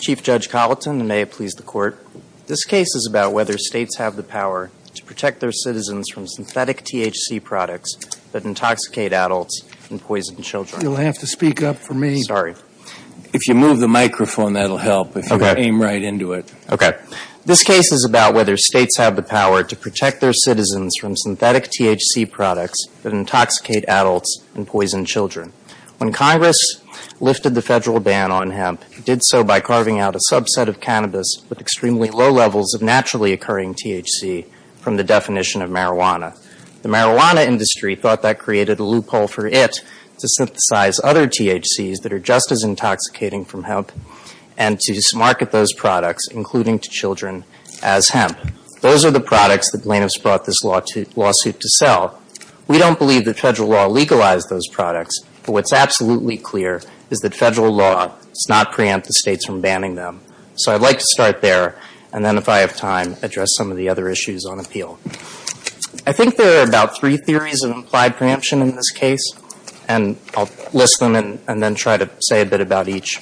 Chief Judge Colleton, and may it please the Court, this case is about whether states have the power to protect their citizens from synthetic THC products that intoxicate adults and poison children. You'll have to speak up for me. Sorry. If you move the microphone, that'll help if you aim right into it. Okay. This case is about whether states have the power to protect their citizens from synthetic THC products that intoxicate adults and poison children. When Congress lifted the federal ban on hemp, it did so by carving out a subset of cannabis with extremely low levels of naturally occurring THC from the definition of marijuana. The marijuana industry thought that created a loophole for it to synthesize other THCs that are just as intoxicating from hemp and to market those products, including to children, as hemp. Those are the products that plaintiffs brought this lawsuit to sell. We don't believe that federal law legalized those products, but what's absolutely clear is that federal law does not preempt the states from banning them. So I'd like to start there, and then if I have time, address some of the other issues on appeal. I think there are about three theories of implied preemption in this case, and I'll list them and then try to say a bit about each.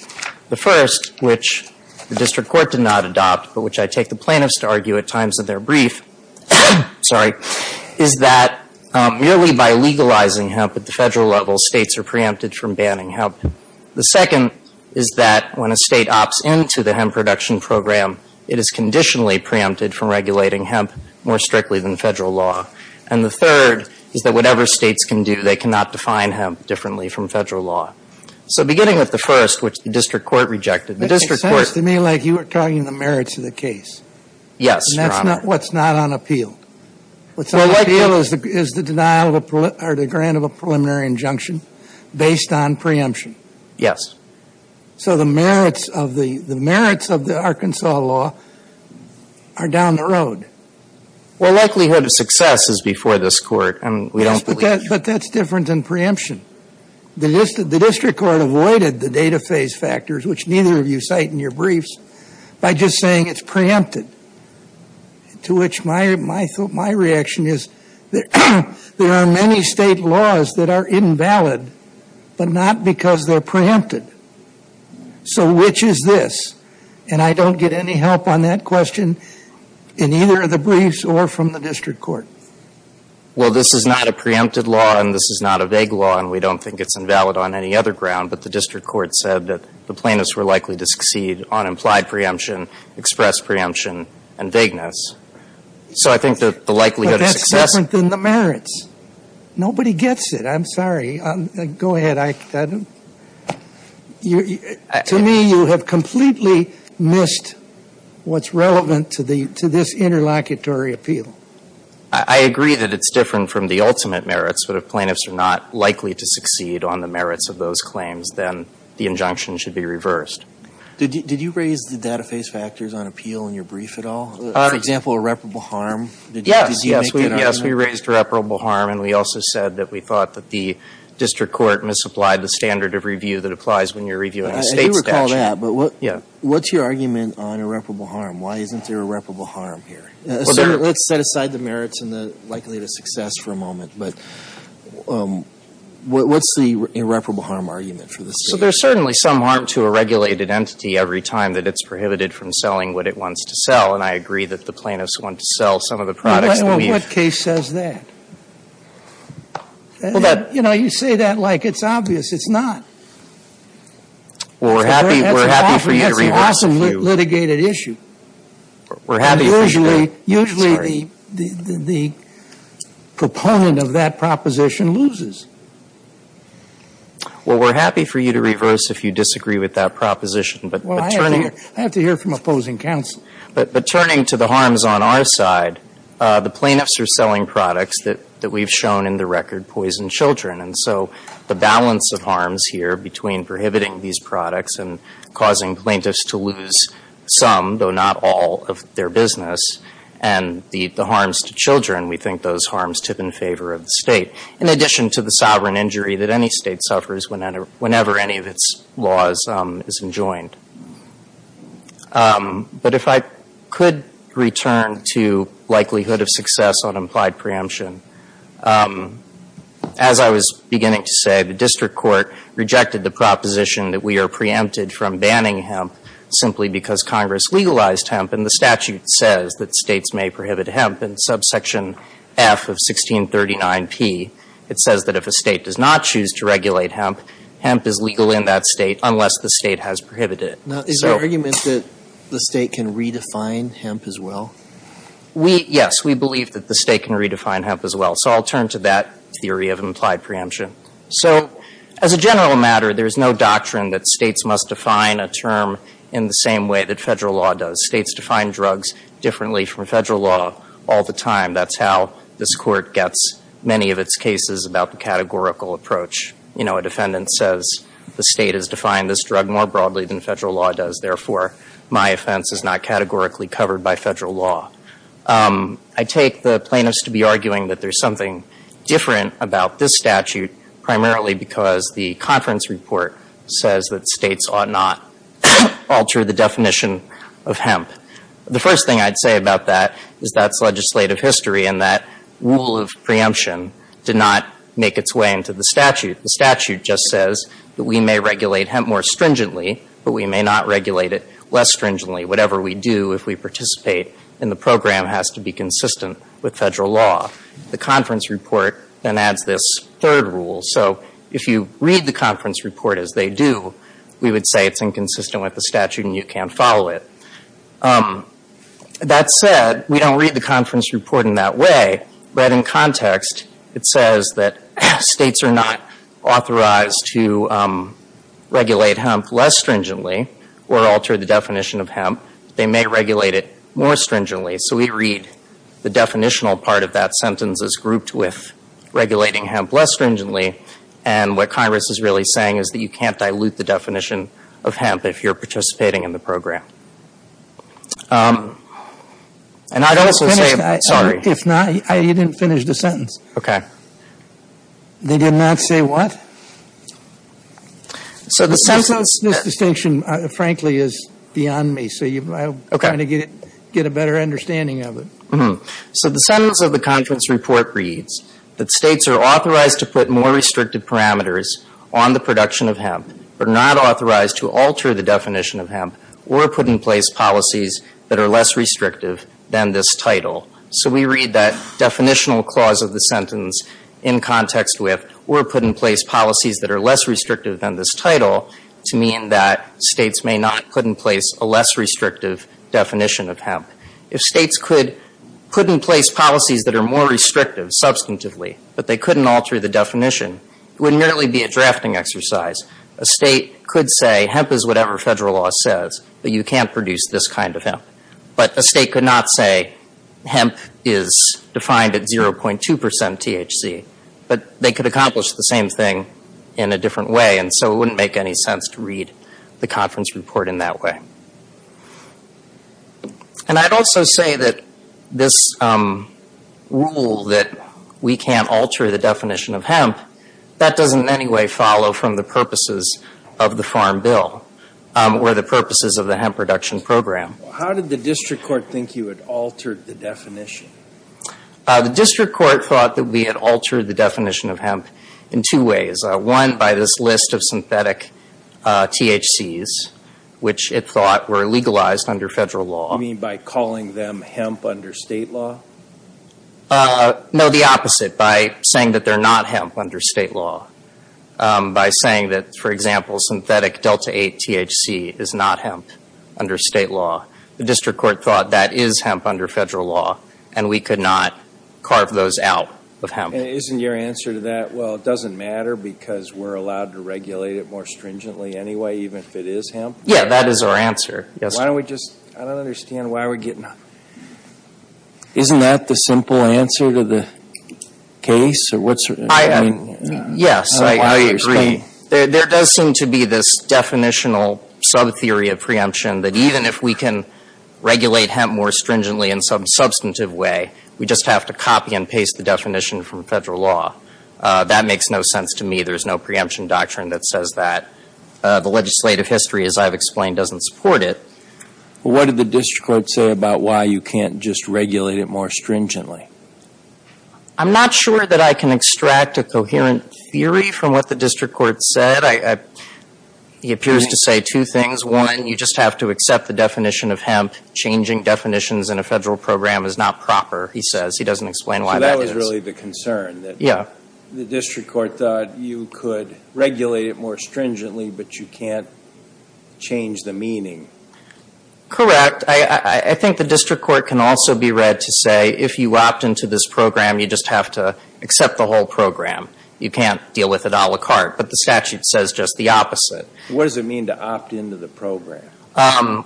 The first, which the district court did not adopt, but which I take the plaintiffs to argue at times in their brief, sorry, is that merely by legalizing hemp at the federal level, states are preempted from banning hemp. The second is that when a state opts into the hemp production program, it is conditionally preempted from regulating hemp more strictly than federal law. And the third is that whatever states can do, they cannot define hemp differently from federal law. So beginning with the first, which the district court rejected, the district court It sounds to me like you were talking the merits of the case. Yes, Your Honor. And that's what's not on appeal. What's on appeal is the denial or the grant of a preliminary injunction based on preemption. Yes. So the merits of the Arkansas law are down the road. Well, likelihood of success is before this court, and we don't believe. Yes, but that's different than preemption. The district court avoided the data phase factors, which neither of you cite in your briefs, by just saying it's preempted, to which my reaction is there are many state laws that are invalid, but not because they're preempted. So which is this? And I don't get any help on that question in either of the briefs or from the district court. Well, this is not a preempted law, and this is not a vague law, and we don't think it's invalid on any other ground. But the district court said that the plaintiffs were likely to succeed on implied preemption, expressed preemption, and vagueness. So I think that the likelihood of success But that's different than the merits. Nobody gets it. I'm sorry. Go ahead. To me, you have completely missed what's relevant to this interlocutory appeal. I agree that it's different from the ultimate merits, but if plaintiffs are not likely to succeed on the merits of those claims, then the injunction should be reversed. Did you raise the data phase factors on appeal in your brief at all? For example, irreparable harm? Yes. Yes, we raised irreparable harm, and we also said that we thought that the district court misapplied the standard of review that applies when you're reviewing a State I do recall that, but what's your argument on irreparable harm? Why isn't there irreparable harm here? Let's set aside the merits and the likelihood of success for a moment, but what's the irreparable harm argument for this case? Well, there's certainly some harm to a regulated entity every time that it's prohibited from selling what it wants to sell, and I agree that the plaintiffs want to sell some of the products that we've used. Well, what case says that? You know, you say that like it's obvious. It's not. Well, we're happy for you to reverse if you do. That's an awesome litigated issue. We're happy for you to reverse. Usually the proponent of that proposition loses. Well, we're happy for you to reverse if you disagree with that proposition, but turning to the harms on our side, the plaintiffs are selling products that we've shown in the record poison children, and so the balance of harms here between prohibiting these products and causing plaintiffs to lose some, though not all, of their business, and the harms to children, we think those harms tip in favor of the State, in addition to the sovereign injury that any State suffers whenever any of its laws is enjoined. But if I could return to likelihood of success on implied preemption, as I was beginning to say, the district court rejected the proposition that we are preempted from banning hemp simply because Congress legalized hemp, and the statute says that States may prohibit hemp in subsection F of 1639P. It says that if a State does not choose to regulate hemp, hemp is legal in that State unless the State has prohibited it. Now, is your argument that the State can redefine hemp as well? We, yes, we believe that the State can redefine hemp as well, so I'll turn to that theory of implied preemption. So, as a general matter, there's no doctrine that States must define a term in the same way that federal law does. States define drugs differently from federal law all the time. That's how this Court gets many of its cases about the categorical approach. You know, a defendant says the State has defined this drug more broadly than federal law does, therefore, my offense is not categorically covered by federal law. I take the plaintiffs to be arguing that there's something different about this statute, primarily because the conference report says that States ought not alter the definition of hemp. The first thing I'd say about that is that's legislative history, and that rule of preemption did not make its way into the statute. The statute just says that we may regulate hemp more stringently, but we may not regulate it less stringently. Whatever we do if we participate in the program has to be consistent with federal law. The conference report then adds this third rule. So, if you read the conference report as they do, we would say it's inconsistent with the statute and you can't follow it. That said, we don't read the conference report in that way, but in context, it says that States are not authorized to regulate hemp less stringently or alter the definition of hemp. They may regulate it more stringently. So, we read the definitional part of that sentence as grouped with regulating hemp less stringently, and what Congress is really saying is that you can't dilute the definition of hemp if you're participating in the program. And I'd also say, sorry. If not, you didn't finish the sentence. They did not say what? So, the sentence. This distinction, frankly, is beyond me. So, I'm trying to get a better understanding of it. So, the sentence of the conference report reads that States are authorized to put more restrictive parameters on the production of hemp, but not authorized to alter the definition of hemp or put in place policies that are less restrictive than this title. So, we read that definitional clause of the sentence in context with, or put in place policies that are less restrictive than this title to mean that States may not put in place a less restrictive definition of hemp. If States could put in place policies that are more restrictive substantively, but they couldn't alter the definition, it would merely be a drafting exercise. A State could say hemp is whatever federal law says, but you can't produce this kind of hemp. But a State could not say hemp is defined at 0.2 percent THC, but they could accomplish the same thing in a different way. And so, it wouldn't make any sense to read the conference report in that way. And I'd also say that this rule that we can't alter the definition of hemp, that doesn't in any way follow from the purposes of the Farm Bill or the purposes of the Hemp Production Program. How did the district court think you had altered the definition? The district court thought that we had altered the definition of hemp in two ways. One, by this list of synthetic THCs, which it thought were legalized under federal law. You mean by calling them hemp under State law? No, the opposite. By saying that they're not hemp under State law. By saying that, for example, synthetic Delta 8 THC is not hemp under State law. The district court thought that is hemp under federal law, and we could not carve those out of hemp. And isn't your answer to that, well, it doesn't matter because we're allowed to regulate it more stringently anyway, even if it is hemp? Yeah, that is our answer. Yes. Why don't we just, I don't understand, why are we getting? Isn't that the simple answer to the case? Yes, I agree. There does seem to be this definitional sub-theory of preemption that even if we can regulate hemp more stringently in some substantive way, we just have to copy and paste the definition from federal law. That makes no sense to me. There's no preemption doctrine that says that. The legislative history, as I've explained, doesn't support it. What did the district court say about why you can't just regulate it more stringently? I'm not sure that I can extract a coherent theory from what the district court said. He appears to say two things. One, you just have to accept the definition of hemp. Changing definitions in a federal program is not proper, he says. He doesn't explain why that is. So that was really the concern, that the district court thought you could regulate it more stringently, but you can't change the meaning. Correct. I think the district court can also be read to say if you opt into this program, you just have to accept the whole program. You can't deal with it a la carte. But the statute says just the opposite. What does it mean to opt into the program?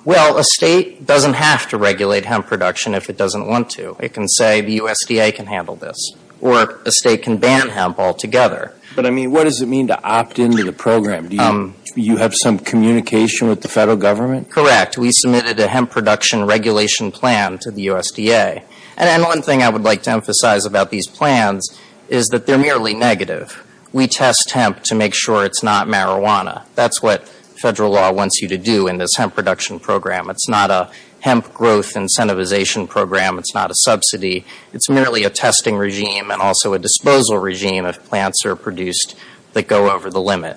Well, a state doesn't have to regulate hemp production if it doesn't want to. It can say the USDA can handle this. Or a state can ban hemp altogether. But I mean, what does it mean to opt into the program? Do you have some communication with the federal government? Correct. We submitted a hemp production regulation plan to the USDA. And one thing I would like to emphasize about these plans is that they're merely negative. We test hemp to make sure it's not marijuana. That's what federal law wants you to do in this hemp production program. It's not a hemp growth incentivization program. It's not a subsidy. It's merely a testing regime and also a disposal regime if plants are produced that go over the limit.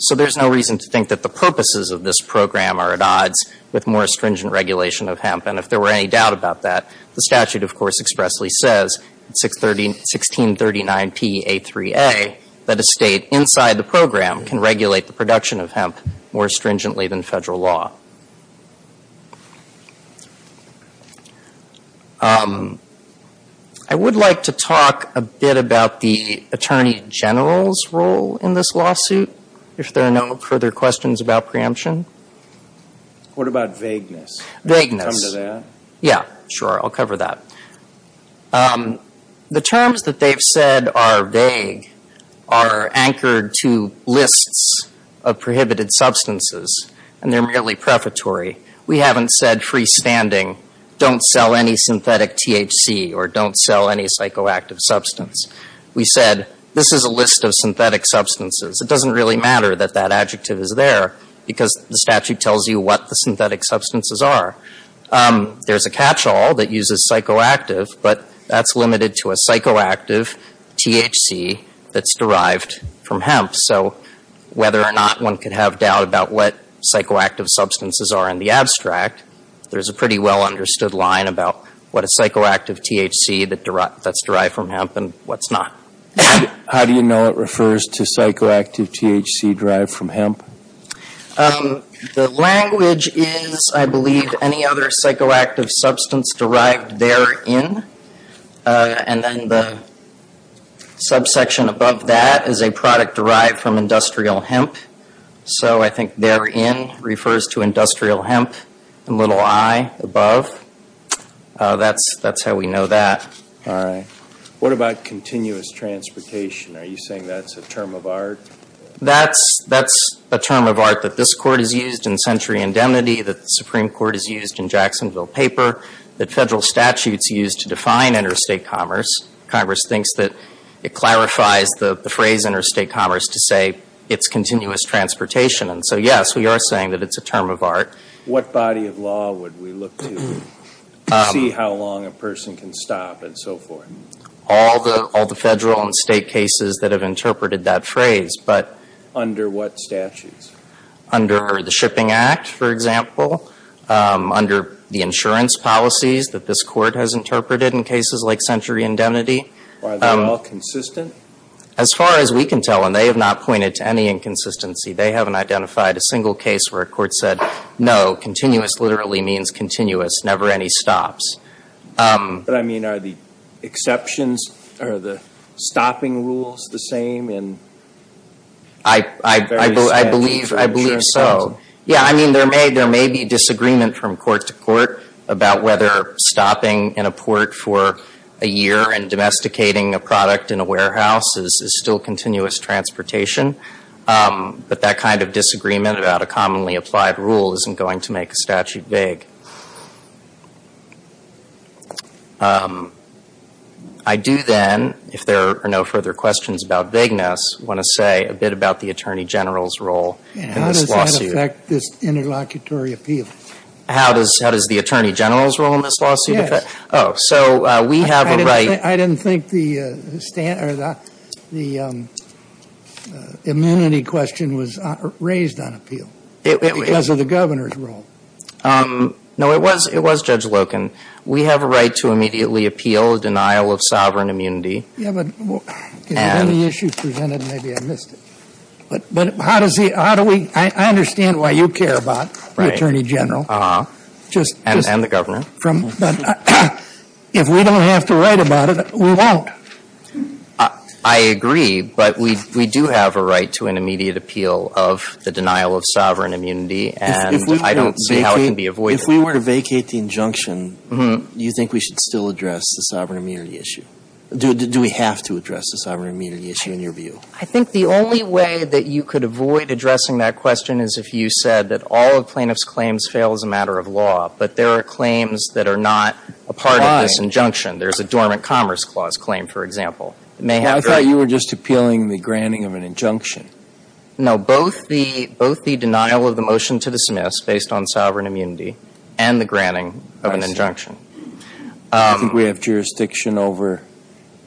So there's no reason to think that the purposes of this program are at odds with more stringent regulation of hemp. And if there were any doubt about that, the statute, of course, expressly says, 1639P.A.3.A., that a state inside the program can regulate the production of hemp more stringently than federal law. I would like to talk a bit about the attorney general's role in this lawsuit, if there are no further questions about preemption. What about vagueness? Can you come to that? Yeah, sure. I'll cover that. The terms that they've said are vague are anchored to lists of prohibited substances. And they're merely prefatory. We haven't said freestanding, don't sell any synthetic THC or don't sell any psychoactive substance. We said, this is a list of synthetic substances. It doesn't really matter that that adjective is there, because the statute tells you what the synthetic substances are. There's a catchall that uses psychoactive, but that's limited to a psychoactive THC that's derived from hemp. So whether or not one could have doubt about what psychoactive substances are in the abstract, there's a pretty well understood line about what a psychoactive THC that's derived from hemp and what's not. How do you know it refers to psychoactive THC derived from hemp? The language is, I believe, any other psychoactive substance derived therein. And then the subsection above that is a product derived from industrial hemp. So I think therein refers to industrial hemp, the little I above. That's how we know that. All right. What about continuous transportation? Are you saying that's a term of art? That's a term of art that this Court has used in Century Indemnity, that the Supreme Court has used in Jacksonville Paper, that Federal statutes use to define interstate commerce. Congress thinks that it clarifies the phrase interstate commerce to say it's continuous transportation. And so, yes, we are saying that it's a term of art. What body of law would we look to see how long a person can stop and so forth? All the Federal and State cases that have interpreted that phrase. But under what statutes? Under the Shipping Act, for example. Under the insurance policies that this Court has interpreted in cases like Century Indemnity. Are they all consistent? As far as we can tell, and they have not pointed to any inconsistency. They haven't identified a single case where a court said, no, continuous literally means continuous, never any stops. But, I mean, are the exceptions, are the stopping rules the same in various states? I believe so. Yeah, I mean, there may be disagreement from court to court about whether stopping in a port for a year and domesticating a product in a warehouse is still continuous transportation. But that kind of disagreement about a commonly applied rule isn't going to make a statute vague. I do then, if there are no further questions about vagueness, want to say a bit about the Attorney General's role in this lawsuit. How does it affect this interlocutory appeal? How does the Attorney General's role in this lawsuit affect it? Oh, so we have a right. I didn't think the immunity question was raised on appeal because of the Governor's role. No, it was Judge Loken. We have a right to immediately appeal a denial of sovereign immunity. Yeah, but in the issue presented, maybe I missed it. But how does he, how do we, I understand why you care about the Attorney General. And the Governor. If we don't have to write about it, we won't. I agree, but we do have a right to an immediate appeal of the denial of sovereign immunity. And I don't see how it can be avoided. If we were to vacate the injunction, do you think we should still address the sovereign immunity issue? Do we have to address the sovereign immunity issue in your view? I think the only way that you could avoid addressing that question is if you said that all of plaintiff's claims fail as a matter of law, but there are claims that are not a part of this injunction. There's a dormant commerce clause claim, for example. I thought you were just appealing the granting of an injunction. No, both the denial of the motion to dismiss based on sovereign immunity and the granting of an injunction. I think we have jurisdiction over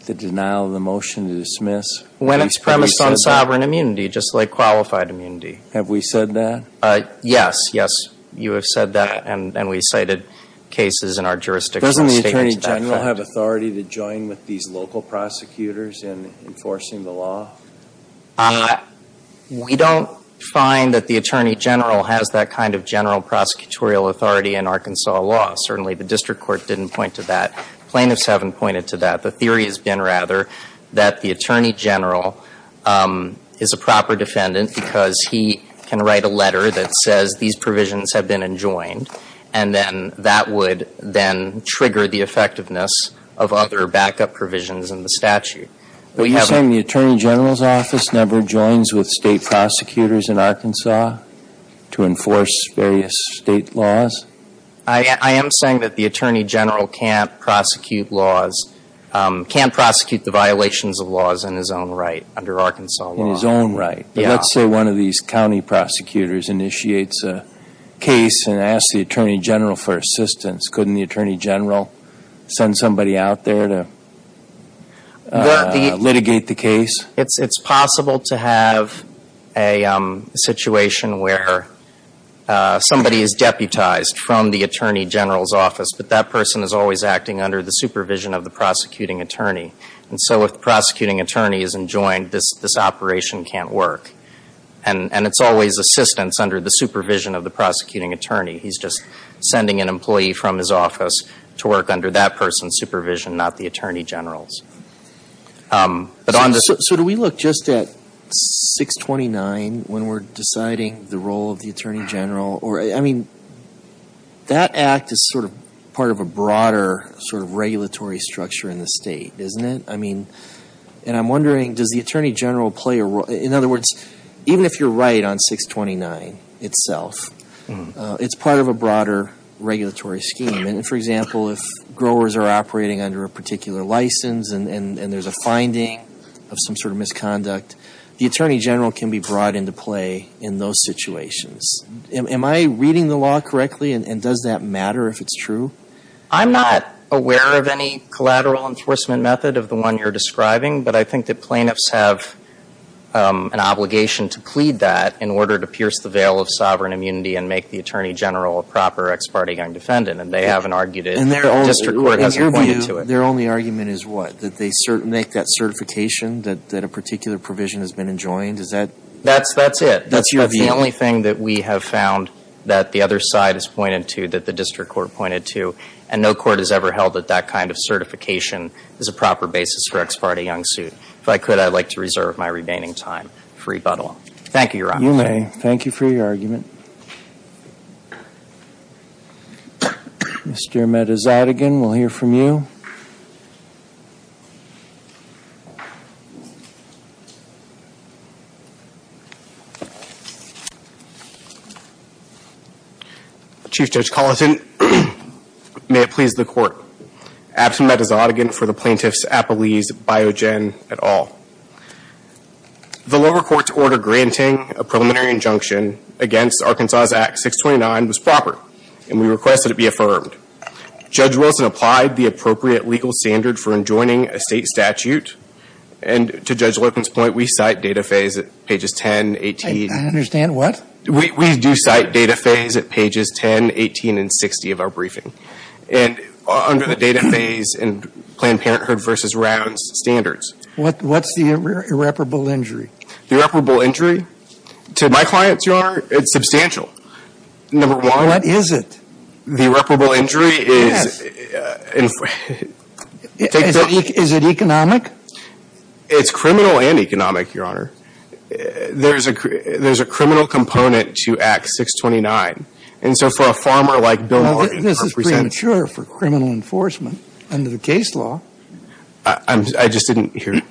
the denial of the motion to dismiss. When it's premised on sovereign immunity, just like qualified immunity. Have we said that? Yes. Yes, you have said that. And we cited cases in our jurisdiction. Doesn't the Attorney General have authority to join with these local prosecutors in enforcing the law? We don't find that the Attorney General has that kind of general prosecutorial authority in Arkansas law. Certainly the district court didn't point to that. Plaintiffs haven't pointed to that. The theory has been, rather, that the Attorney General is a proper defendant because he can write a letter that says these provisions have been enjoined, and then that would then trigger the effectiveness of other backup provisions in the statute. Are you saying the Attorney General's office never joins with state prosecutors in Arkansas to enforce various state laws? I am saying that the Attorney General can't prosecute laws, can't prosecute the violations of laws in his own right under Arkansas law. In his own right. Let's say one of these county prosecutors initiates a case and asks the Attorney General for assistance. Couldn't the Attorney General send somebody out there to litigate the case? It's possible to have a situation where somebody is deputized from the Attorney General's office, but that person is always acting under the supervision of the prosecuting attorney. And so if the prosecuting attorney isn't joined, this operation can't work. And it's always assistance under the supervision of the prosecuting attorney. He's just sending an employee from his office to work under that person's supervision, not the Attorney General's. So do we look just at 629 when we're deciding the role of the Attorney General? Or, I mean, that act is sort of part of a broader sort of regulatory structure in the state, isn't it? I mean, and I'm wondering, does the Attorney General play a role? In other words, even if you're right on 629 itself, it's part of a broader regulatory scheme. And for example, if growers are operating under a particular license and there's a finding of some sort of misconduct, the Attorney General can be brought into play in those situations. Am I reading the law correctly? And does that matter if it's true? I'm not aware of any collateral enforcement method of the one you're describing, but I think that plaintiffs have an obligation to plead that in order to pierce the veil of sovereign immunity and make the Attorney General a proper ex parte young defendant. And they haven't argued it. The district court hasn't pointed to it. And their only argument is what? That they make that certification that a particular provision has been enjoined? Is that? That's it. That's the only thing that we have found that the other side has pointed to that the district court pointed to. And no court has ever held that that kind of certification is a proper basis for ex parte young suit. If I could, I'd like to reserve my remaining time for rebuttal. Thank you, Your Honor. You may. Thank you for your argument. Mr. Metazatagan, we'll hear from you. Chief Judge Collison, may it please the court. Absent Metazatagan for the plaintiff's Apollese Biogen et al. The lower court's order granting a preliminary injunction against the Arkansas Act 629 was proper. And we request that it be affirmed. Judge Wilson applied the appropriate legal standard for enjoining a state statute. And to Judge Larkin's point, we cite data phase at pages 10, 18. I understand. What? We do cite data phase at pages 10, 18, and 60 of our briefing. And under the data phase in Planned Parenthood versus Rounds standards. What's the irreparable injury? The irreparable injury? To my clients, Your Honor, it's substantial. Number one. What is it? The irreparable injury is. Is it economic? It's criminal and economic, Your Honor. There's a criminal component to Act 629. And so for a farmer like Bill Larkin. This is premature for criminal enforcement under the case law. I just didn't hear.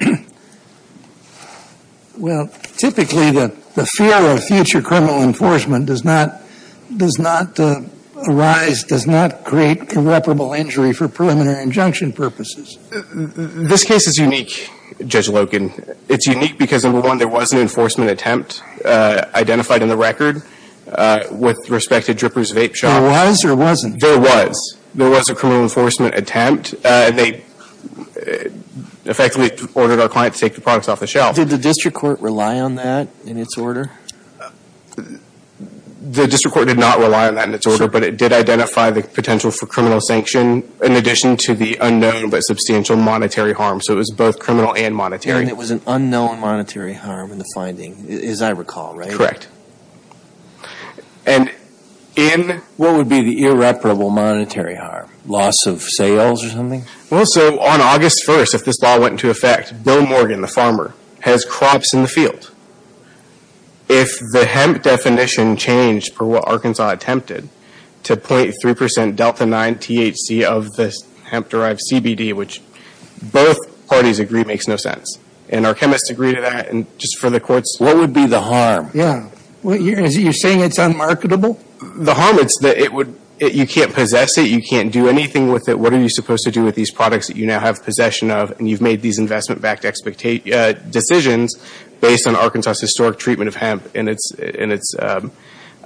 Well, typically the fear of future criminal enforcement does not arise, does not create irreparable injury for preliminary injunction purposes. This case is unique, Judge Larkin. It's unique because, number one, there was an enforcement attempt identified in the record with respect to Dripper's Vape Shop. There was or wasn't? There was. There was a criminal enforcement attempt. And they effectively ordered our client to take the products off the shelf. Did the district court rely on that in its order? The district court did not rely on that in its order. But it did identify the potential for criminal sanction in addition to the unknown but substantial monetary harm. So it was both criminal and monetary. And it was an unknown monetary harm in the finding, as I recall, right? Correct. And in... What would be the irreparable monetary harm? Loss of sales or something? Well, so on August 1st, if this law went into effect, Bill Morgan, the farmer, has crops in the field. If the hemp definition changed for what Arkansas attempted to 0.3 percent delta-9 THC of the hemp-derived CBD, which both parties agree makes no sense, and our chemists agree to that, and just for the courts... What would be the harm? Yeah. You're saying it's unmarketable? The harm is that it would... You can't possess it. You can't do anything with it. What are you supposed to do with these products that you now have possession of? And you've made these investment-backed decisions based on Arkansas' historic treatment of hemp and its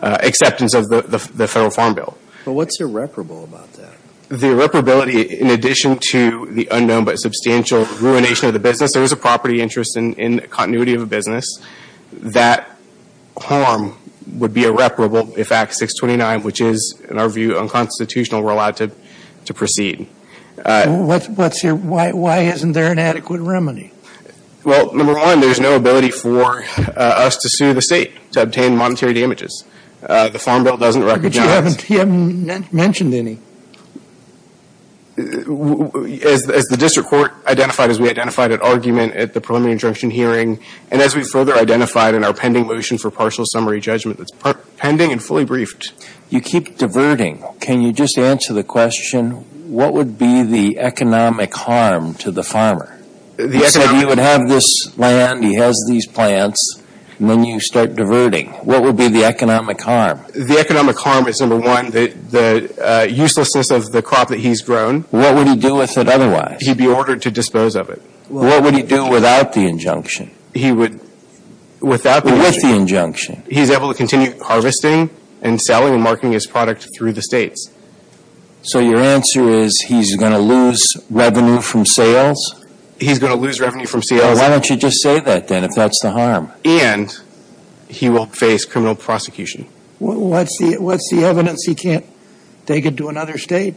acceptance of the Federal Farm Bill. But what's irreparable about that? The irreparability in addition to the unknown but substantial ruination of the business. There was a property interest in continuity of a business. That harm would be irreparable if Act 629, which is, in our view, unconstitutional, were allowed to proceed. Why isn't there an adequate remedy? Well, number one, there's no ability for us to sue the State to obtain monetary damages. The Farm Bill doesn't recognize... But you haven't mentioned any. As the district court identified, as we identified at argument at the preliminary injunction hearing, and as we further identified in our pending motion for partial summary judgment that's pending and fully briefed. You keep diverting. Can you just answer the question, what would be the economic harm to the farmer? You said he would have this land, he has these plants, and then you start diverting. What would be the economic harm? The economic harm is, number one, the uselessness of the crop that he's grown. What would he do with it otherwise? He'd be ordered to dispose of it. What would he do without the injunction? He would... Without the injunction? With the injunction. He's able to continue harvesting and selling and marketing his product through the States. So your answer is he's going to lose revenue from sales? He's going to lose revenue from sales. Well, why don't you just say that, then, if that's the harm? And he will face criminal prosecution. What's the evidence he can't take it to another State?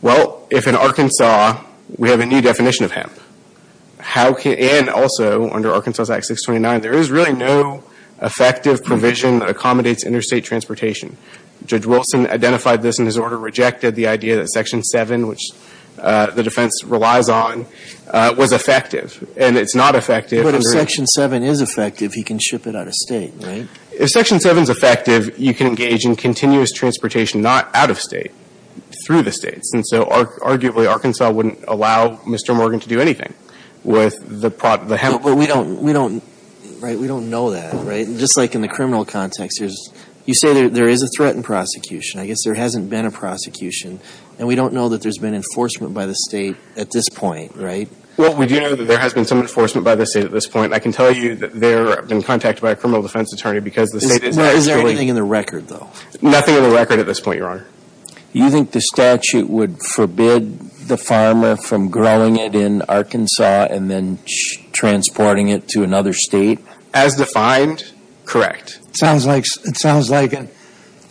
Well, if in Arkansas we have a new definition of hemp, and also under Arkansas Act 629, there is really no effective provision that accommodates interstate transportation. Judge Wilson identified this in his order, rejected the idea that Section 7, which the defense relies on, was effective. And it's not effective. But if Section 7 is effective, he can ship it out of State, right? If Section 7 is effective, you can engage in continuous transportation, not out of State, through the States. And so, arguably, Arkansas wouldn't allow Mr. Morgan to do anything with the hemp. But we don't know that, right? Just like in the criminal context, you say there is a threat in prosecution. I guess there hasn't been a prosecution. And we don't know that there's been enforcement by the State at this point, right? Well, we do know that there has been some enforcement by the State at this point. I can tell you that there have been contacts by a criminal defense attorney because the State is actually – Is there anything in the record, though? Nothing in the record at this point, Your Honor. You think the statute would forbid the farmer from growing it in Arkansas and then transporting it to another State? As defined, correct. It sounds like a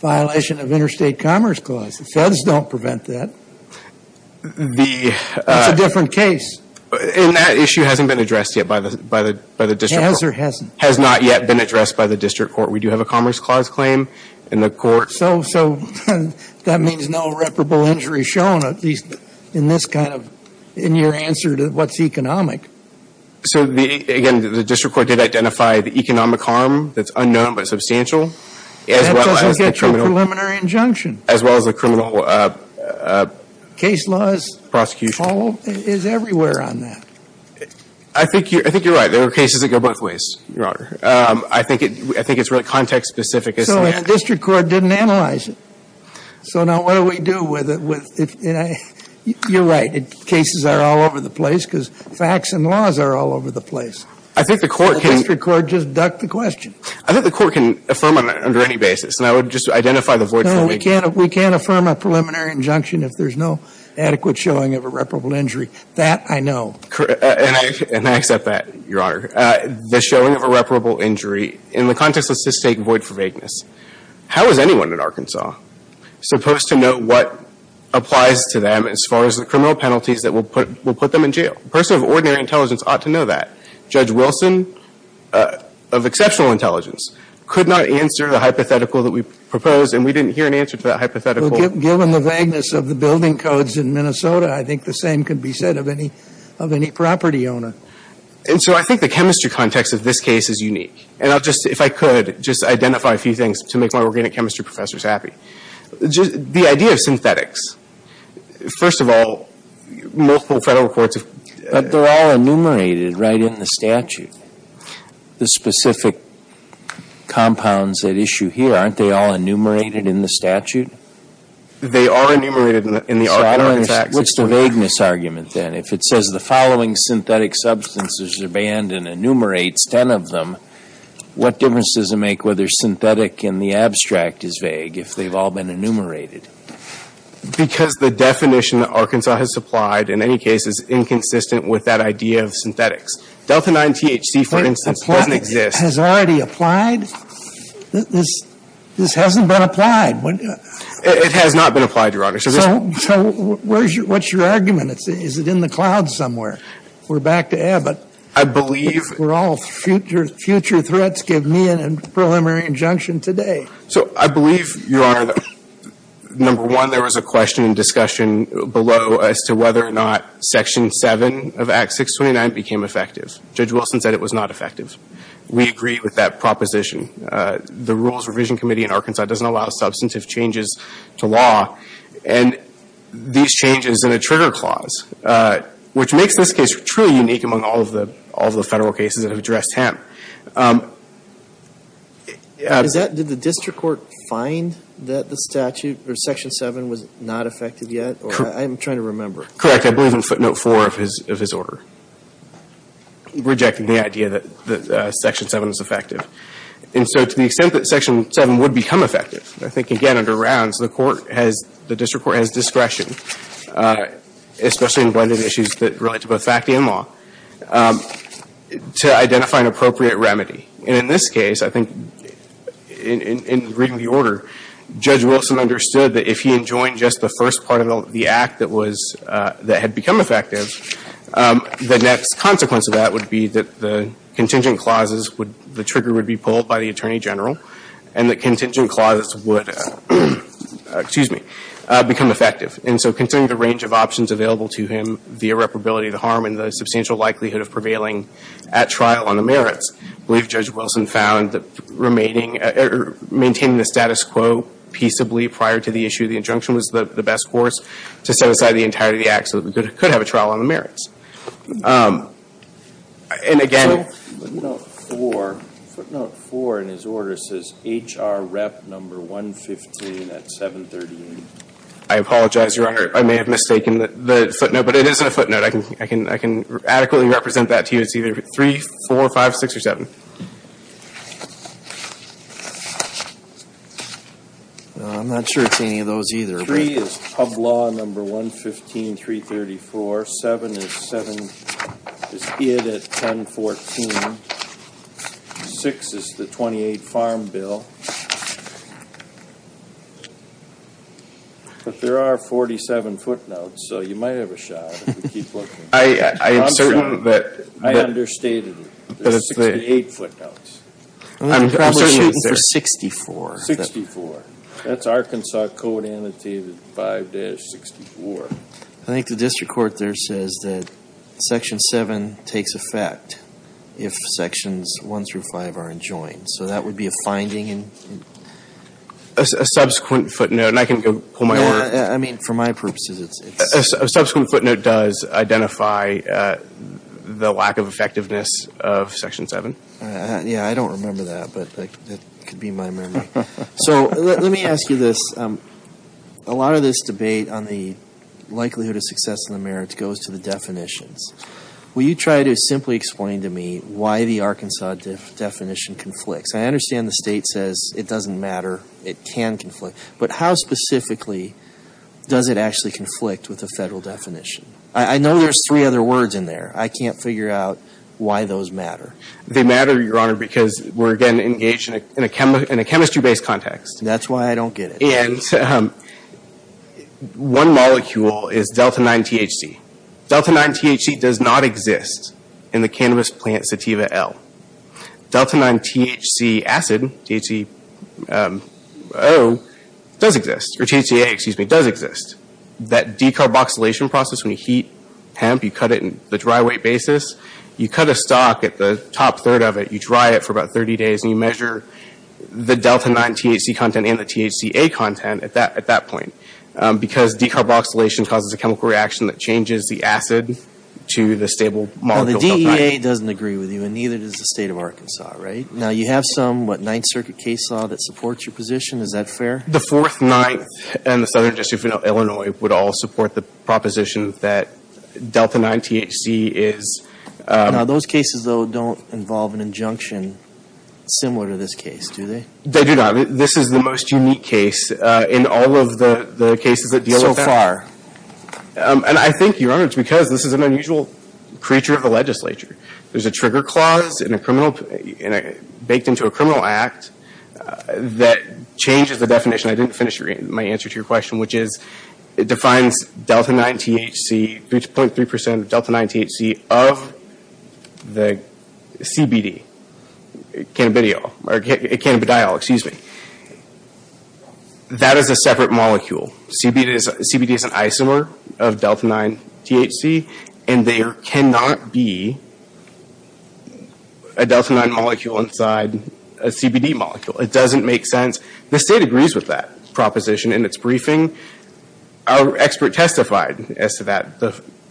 violation of interstate commerce clause. The Feds don't prevent that. It's a different case. And that issue hasn't been addressed yet by the district court. Has or hasn't? Has not yet been addressed by the district court. We do have a commerce clause claim in the court. So that means no reparable injury shown, at least in this kind of – in your answer to what's economic. So, again, the district court did identify the economic harm that's unknown but substantial. That doesn't get you a preliminary injunction. As well as the criminal prosecution. Case laws – Prosecution. – is everywhere on that. I think you're right. There are cases that go both ways, Your Honor. I think it's really context-specific. So the district court didn't analyze it. So now what do we do with it? You're right. Cases are all over the place because facts and laws are all over the place. I think the court can – The district court just ducked the question. I think the court can affirm under any basis. And I would just identify the voids that we – adequate showing of a reparable injury. That, I know. And I accept that, Your Honor. The showing of a reparable injury in the context of cystic void for vagueness. How is anyone in Arkansas supposed to know what applies to them as far as the criminal penalties that will put them in jail? A person of ordinary intelligence ought to know that. Judge Wilson of exceptional intelligence could not answer the hypothetical that we proposed. And we didn't hear an answer to that hypothetical. Well, given the vagueness of the building codes in Minnesota, I think the same could be said of any property owner. And so I think the chemistry context of this case is unique. And I'll just – if I could, just identify a few things to make my organic chemistry professors happy. The idea of synthetics. First of all, multiple federal courts have – But they're all enumerated right in the statute. The specific compounds at issue here, aren't they all enumerated in the statute? They are enumerated in the – So I don't understand. What's the vagueness argument then? If it says the following synthetic substances are banned and enumerates 10 of them, what difference does it make whether synthetic in the abstract is vague if they've all been enumerated? Because the definition that Arkansas has supplied, in any case, is inconsistent with that idea of synthetics. Delta 9 THC, for instance, doesn't exist. Has already applied? This hasn't been applied. It has not been applied, Your Honor. So what's your argument? Is it in the cloud somewhere? We're back to Abbott. I believe – We're all future threats. Give me a preliminary injunction today. So I believe, Your Honor, that, number one, there was a question in discussion below as to whether or not Section 7 of Act 629 became effective. Judge Wilson said it was not effective. We agree with that proposition. The Rules Revision Committee in Arkansas doesn't allow substantive changes to law, and these changes in a trigger clause, which makes this case truly unique among all of the federal cases that have addressed hemp. Did the district court find that the statute, or Section 7, was not effective yet? I'm trying to remember. I believe in footnote 4 of his order, rejecting the idea that Section 7 is effective. And so to the extent that Section 7 would become effective, I think, again, under rounds, the court has – the district court has discretion, especially in blending issues that relate to both fact and law, to identify an appropriate remedy. And in this case, I think, in reading the order, Judge Wilson understood that if he enjoined just the first part of the act that was – that had become effective, the next consequence of that would be that the contingent clauses would – the trigger would be pulled by the Attorney General, and the contingent clauses would – excuse me – become effective. And so considering the range of options available to him, the irreparability of the harm, and the substantial likelihood of prevailing at trial on the merits, I believe Judge Wilson found that remaining – or maintaining the status quo peaceably prior to the issue of the injunction was the best course to set aside the entirety of the act so that we could have a trial on the merits. And again – Footnote 4. Footnote 4 in his order says HR Rep. 115 at 738. I apologize, Your Honor. I may have mistaken the footnote, but it isn't a footnote. I can adequately represent that to you. It's either 3, 4, 5, 6, or 7. I'm not sure it's any of those either. 3 is Pub Law No. 115-334. 7 is 7 – is id at 1014. 6 is the 28 Farm Bill. But there are 47 footnotes, so you might have a shot if we keep looking. I am certain that – I understated it. There's 68 footnotes. I'm shooting for 64. 64. That's Arkansas Code Annotated 5-64. I think the district court there says that Section 7 takes effect if Sections 1 through 5 are enjoined. So that would be a finding. A subsequent footnote – and I can go pull my order. I mean, for my purposes, it's – A subsequent footnote does identify the lack of effectiveness of Section 7. Yeah, I don't remember that, but that could be my memory. So let me ask you this. A lot of this debate on the likelihood of success in the merits goes to the definitions. Will you try to simply explain to me why the Arkansas definition conflicts? I understand the State says it doesn't matter, it can conflict. But how specifically does it actually conflict with the Federal definition? I know there's three other words in there. I can't figure out why those matter. They matter, Your Honor, because we're, again, engaged in a chemistry-based context. That's why I don't get it. And one molecule is delta-9-THC. Delta-9-THC does not exist in the cannabis plant sativa L. Delta-9-THC acid, T-H-C-O, does exist – or T-H-C-A, excuse me, does exist. That decarboxylation process when you heat hemp, you cut it in the dry weight basis. You cut a stalk at the top third of it. You dry it for about 30 days, and you measure the delta-9-THC content and the T-H-C-A content at that point. Because decarboxylation causes a chemical reaction that changes the acid to the stable molecule. Well, the DEA doesn't agree with you, and neither does the State of Arkansas, right? Now, you have some, what, Ninth Circuit case law that supports your position? Is that fair? The Fourth, Ninth, and the Southern District of Illinois would all support the proposition that delta-9-THC is – Now, those cases, though, don't involve an injunction similar to this case, do they? They do not. This is the most unique case in all of the cases that deal with that. So far. And I think, Your Honor, it's because this is an unusual creature of the legislature. There's a trigger clause in a criminal – baked into a criminal act that changes the definition. I didn't finish my answer to your question, which is, it defines delta-9-THC, 0.3% of delta-9-THC, of the CBD. Cannabidiol, or cannabidiol, excuse me. That is a separate molecule. CBD is an isomer of delta-9-THC, and there cannot be a delta-9 molecule inside a CBD molecule. It doesn't make sense. The state agrees with that proposition in its briefing. Our expert testified as to that,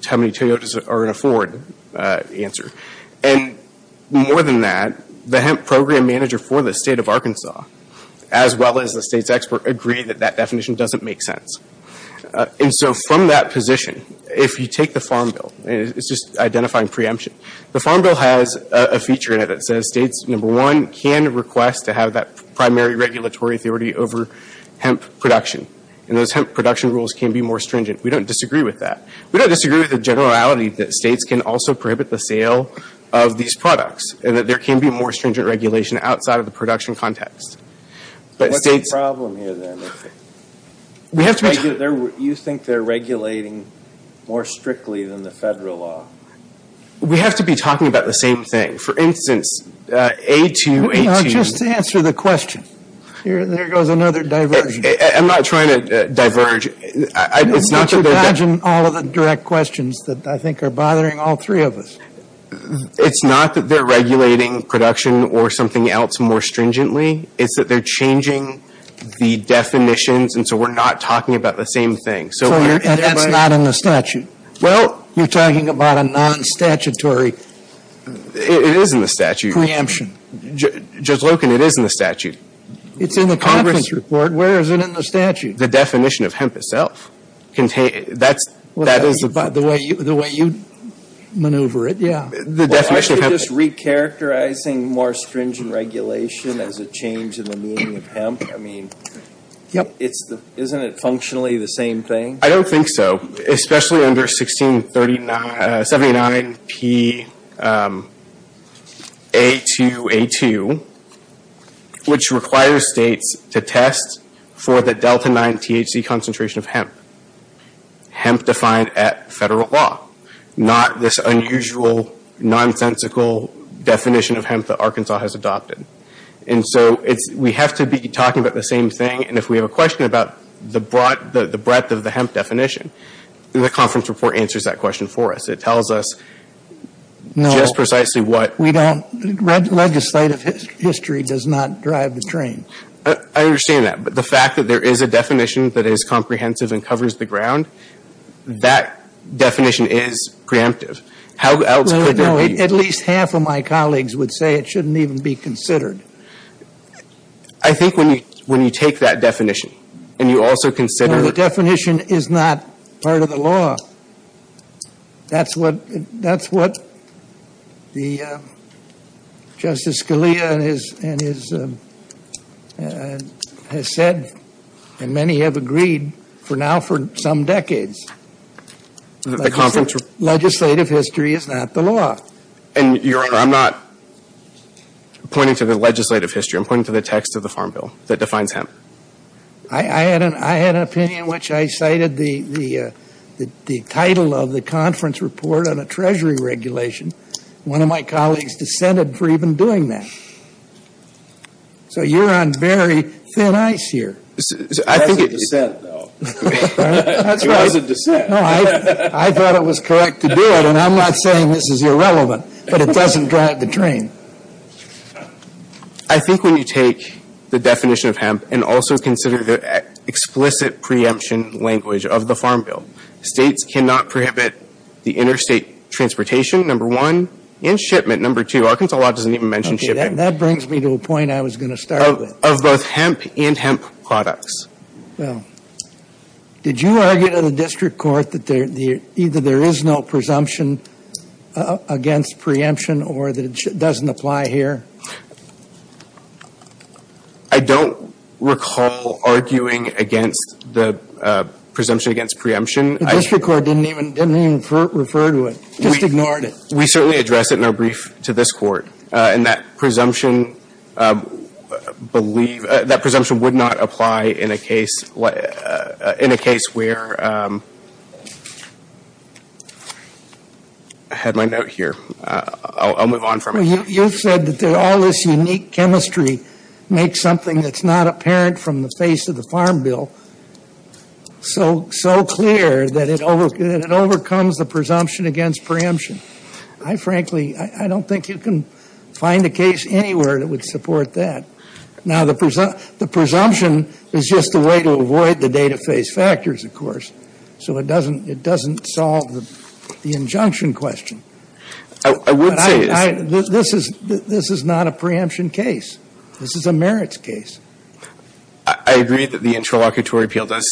how many Toyotas are in a Ford answer. And more than that, the hemp program manager for the state of Arkansas, as well as the state's expert, agree that that definition doesn't make sense. And so from that position, if you take the Farm Bill – it's just identifying preemption. The Farm Bill has a feature in it that says states, number one, can request to have that primary regulatory authority over hemp production. And those hemp production rules can be more stringent. We don't disagree with that. We don't disagree with the generality that states can also prohibit the sale of these products, and that there can be more stringent regulation outside of the production context. But states – What's the problem here, then? We have to – You think they're regulating more strictly than the federal law. We have to be talking about the same thing. For instance, A-2, A-2 – Just answer the question. There goes another diversion. I'm not trying to diverge. It's not that they're – Don't you imagine all of the direct questions that I think are bothering all three of us. It's not that they're regulating production or something else more stringently. It's that they're changing the definitions, and so we're not talking about the same thing. So you're – That's not in the statute. Well – You're talking about a non-statutory – It is in the statute. Judge Loken, it is in the statute. It's in the Congress report. Where is it in the statute? The definition of hemp itself. That's – Well, that's the way you maneuver it, yeah. The definition of hemp – Aren't you just recharacterizing more stringent regulation as a change in the meaning of hemp? I mean, isn't it functionally the same thing? I don't think so. Especially under 1639 – 79 P.A. 2.A. 2, which requires states to test for the delta-9 THC concentration of hemp. Hemp defined at federal law. Not this unusual, nonsensical definition of hemp that Arkansas has adopted. And so it's – we have to be talking about the same thing, and if we have a question about the breadth of the hemp definition, the conference report answers that question for us. It tells us just precisely what – No, we don't – legislative history does not drive the train. I understand that. But the fact that there is a definition that is comprehensive and covers the ground, that definition is preemptive. How else could there be – No, at least half of my colleagues would say it shouldn't even be considered. I think when you take that definition and you also consider – No, the definition is not part of the law. That's what the – Justice Scalia and his – has said, and many have agreed for now for some decades. The conference – Legislative history is not the law. And, Your Honor, I'm not pointing to the legislative history. I'm pointing to the text of the Farm Bill that defines hemp. I had an opinion in which I cited the title of the conference report on a treasury regulation. One of my colleagues dissented for even doing that. So you're on very thin ice here. That's a dissent, though. That's right. That's a dissent. No, I thought it was correct to do it. And I'm not saying this is irrelevant, but it doesn't drive the train. I think when you take the definition of hemp and also consider the explicit preemption language of the Farm Bill, states cannot prohibit the interstate transportation, number one, and shipment, number two. Arkansas law doesn't even mention shipping. Okay, that brings me to a point I was going to start with. Of both hemp and hemp products. Well, did you argue to the district court that either there is no presumption against preemption or that it doesn't apply here? I don't recall arguing against the presumption against preemption. The district court didn't even refer to it. Just ignored it. We certainly addressed it in our brief to this Court. And that presumption would not apply in a case where ‑‑ I had my note here. I'll move on from it. You said that all this unique chemistry makes something that's not apparent from the face of the Farm Bill so clear that it overcomes the presumption against preemption. I, frankly, I don't think you can find a case anywhere that would support that. Now, the presumption is just a way to avoid the data phase factors, of course, so it doesn't solve the injunction question. I would say ‑‑ This is not a preemption case. This is a merits case. I agree that the interlocutory appeal does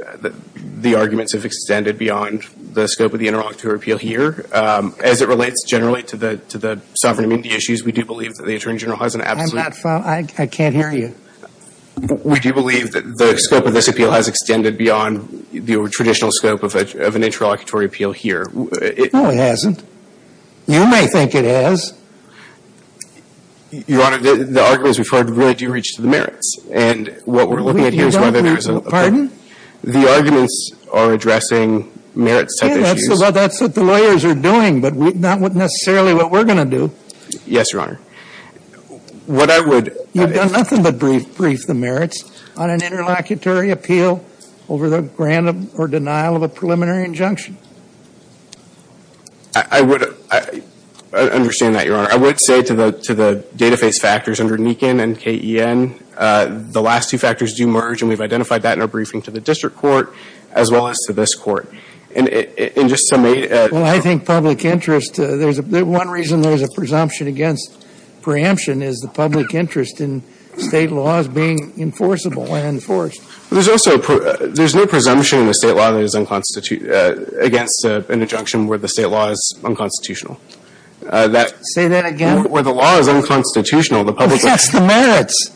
‑‑ the arguments have extended beyond the scope of the interlocutory appeal here. As it relates generally to the sovereign immunity issues, we do believe that the Attorney General has an absolute ‑‑ I'm not following. I can't hear you. We do believe that the scope of this appeal has extended beyond the traditional scope of an interlocutory appeal here. No, it hasn't. You may think it has. Your Honor, the arguments referred really do reach to the merits. And what we're looking at here is whether there is a ‑‑ The arguments are addressing merits‑type issues. Yeah, that's what the lawyers are doing, but not necessarily what we're going to do. Yes, Your Honor. What I would ‑‑ You've done nothing but brief the merits on an interlocutory appeal over the random or denial of a preliminary injunction. I would ‑‑ I understand that, Your Honor. I would say to the data phase factors under NEKIN and KEN, the last two factors do merge, and we've identified that in our briefing to the district court as well as to this court. And just to make ‑‑ Well, I think public interest, there's a ‑‑ one reason there's a presumption against preemption is the public interest in state laws being enforceable and enforced. There's also a ‑‑ there's no presumption in the state law that is unconstitutional against an injunction where the state law is unconstitutional. Say that again. Where the law is unconstitutional, the public ‑‑ Against the merits.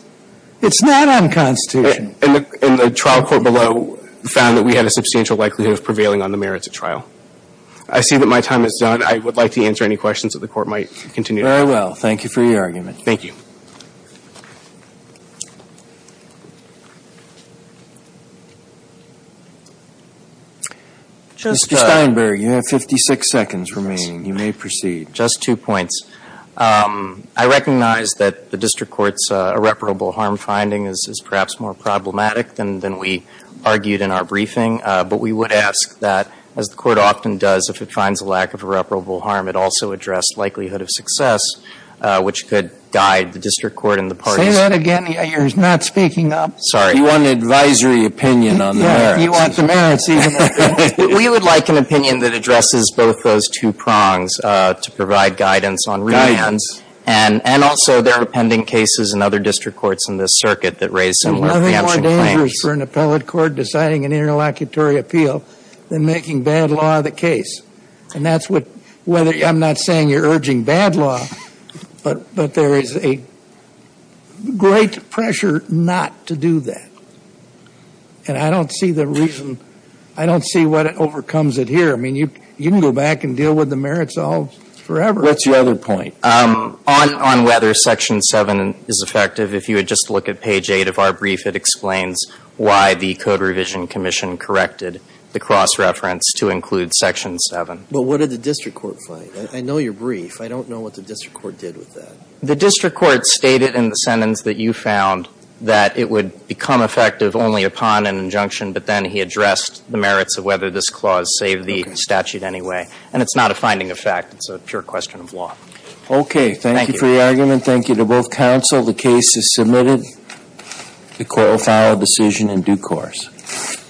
It's not unconstitutional. And the trial court below found that we had a substantial likelihood of prevailing on the merits at trial. I see that my time is done. I would like to answer any questions that the Court might continue to have. Very well. Thank you for your argument. Thank you. Mr. Steinberg, you have 56 seconds remaining. You may proceed. Just two points. I recognize that the district court's irreparable harm finding is perhaps more problematic than we argued in our briefing. But we would ask that, as the Court often does, if it finds a lack of irreparable harm, it also addressed likelihood of success, which could guide the district court and the parties ‑‑ Say that again. You're not speaking up. Sorry. You want an advisory opinion on the merits. Yes. You want the merits even more. We would like an opinion that addresses both those two prongs, to provide guidance on ‑‑ And also there are pending cases in other district courts in this circuit that raise similar preemption claims. Nothing more dangerous for an appellate court deciding an interlocutory appeal than making bad law the case. And that's what ‑‑ I'm not saying you're urging bad law, but there is a great pressure not to do that. And I don't see the reason ‑‑ I don't see what overcomes it here. I mean, you can go back and deal with the merits all forever. What's your other point? On whether Section 7 is effective, if you would just look at page 8 of our brief, it explains why the Code Revision Commission corrected the cross reference to include Section 7. But what did the district court find? I know your brief. I don't know what the district court did with that. The district court stated in the sentence that you found that it would become effective only upon an injunction, but then he addressed the merits of whether this clause saved the statute anyway. And it's not a finding of fact. It's a pure question of law. Okay. Thank you. Thank you for your argument. Thank you to both counsel. The case is submitted. The court will file a decision in due course.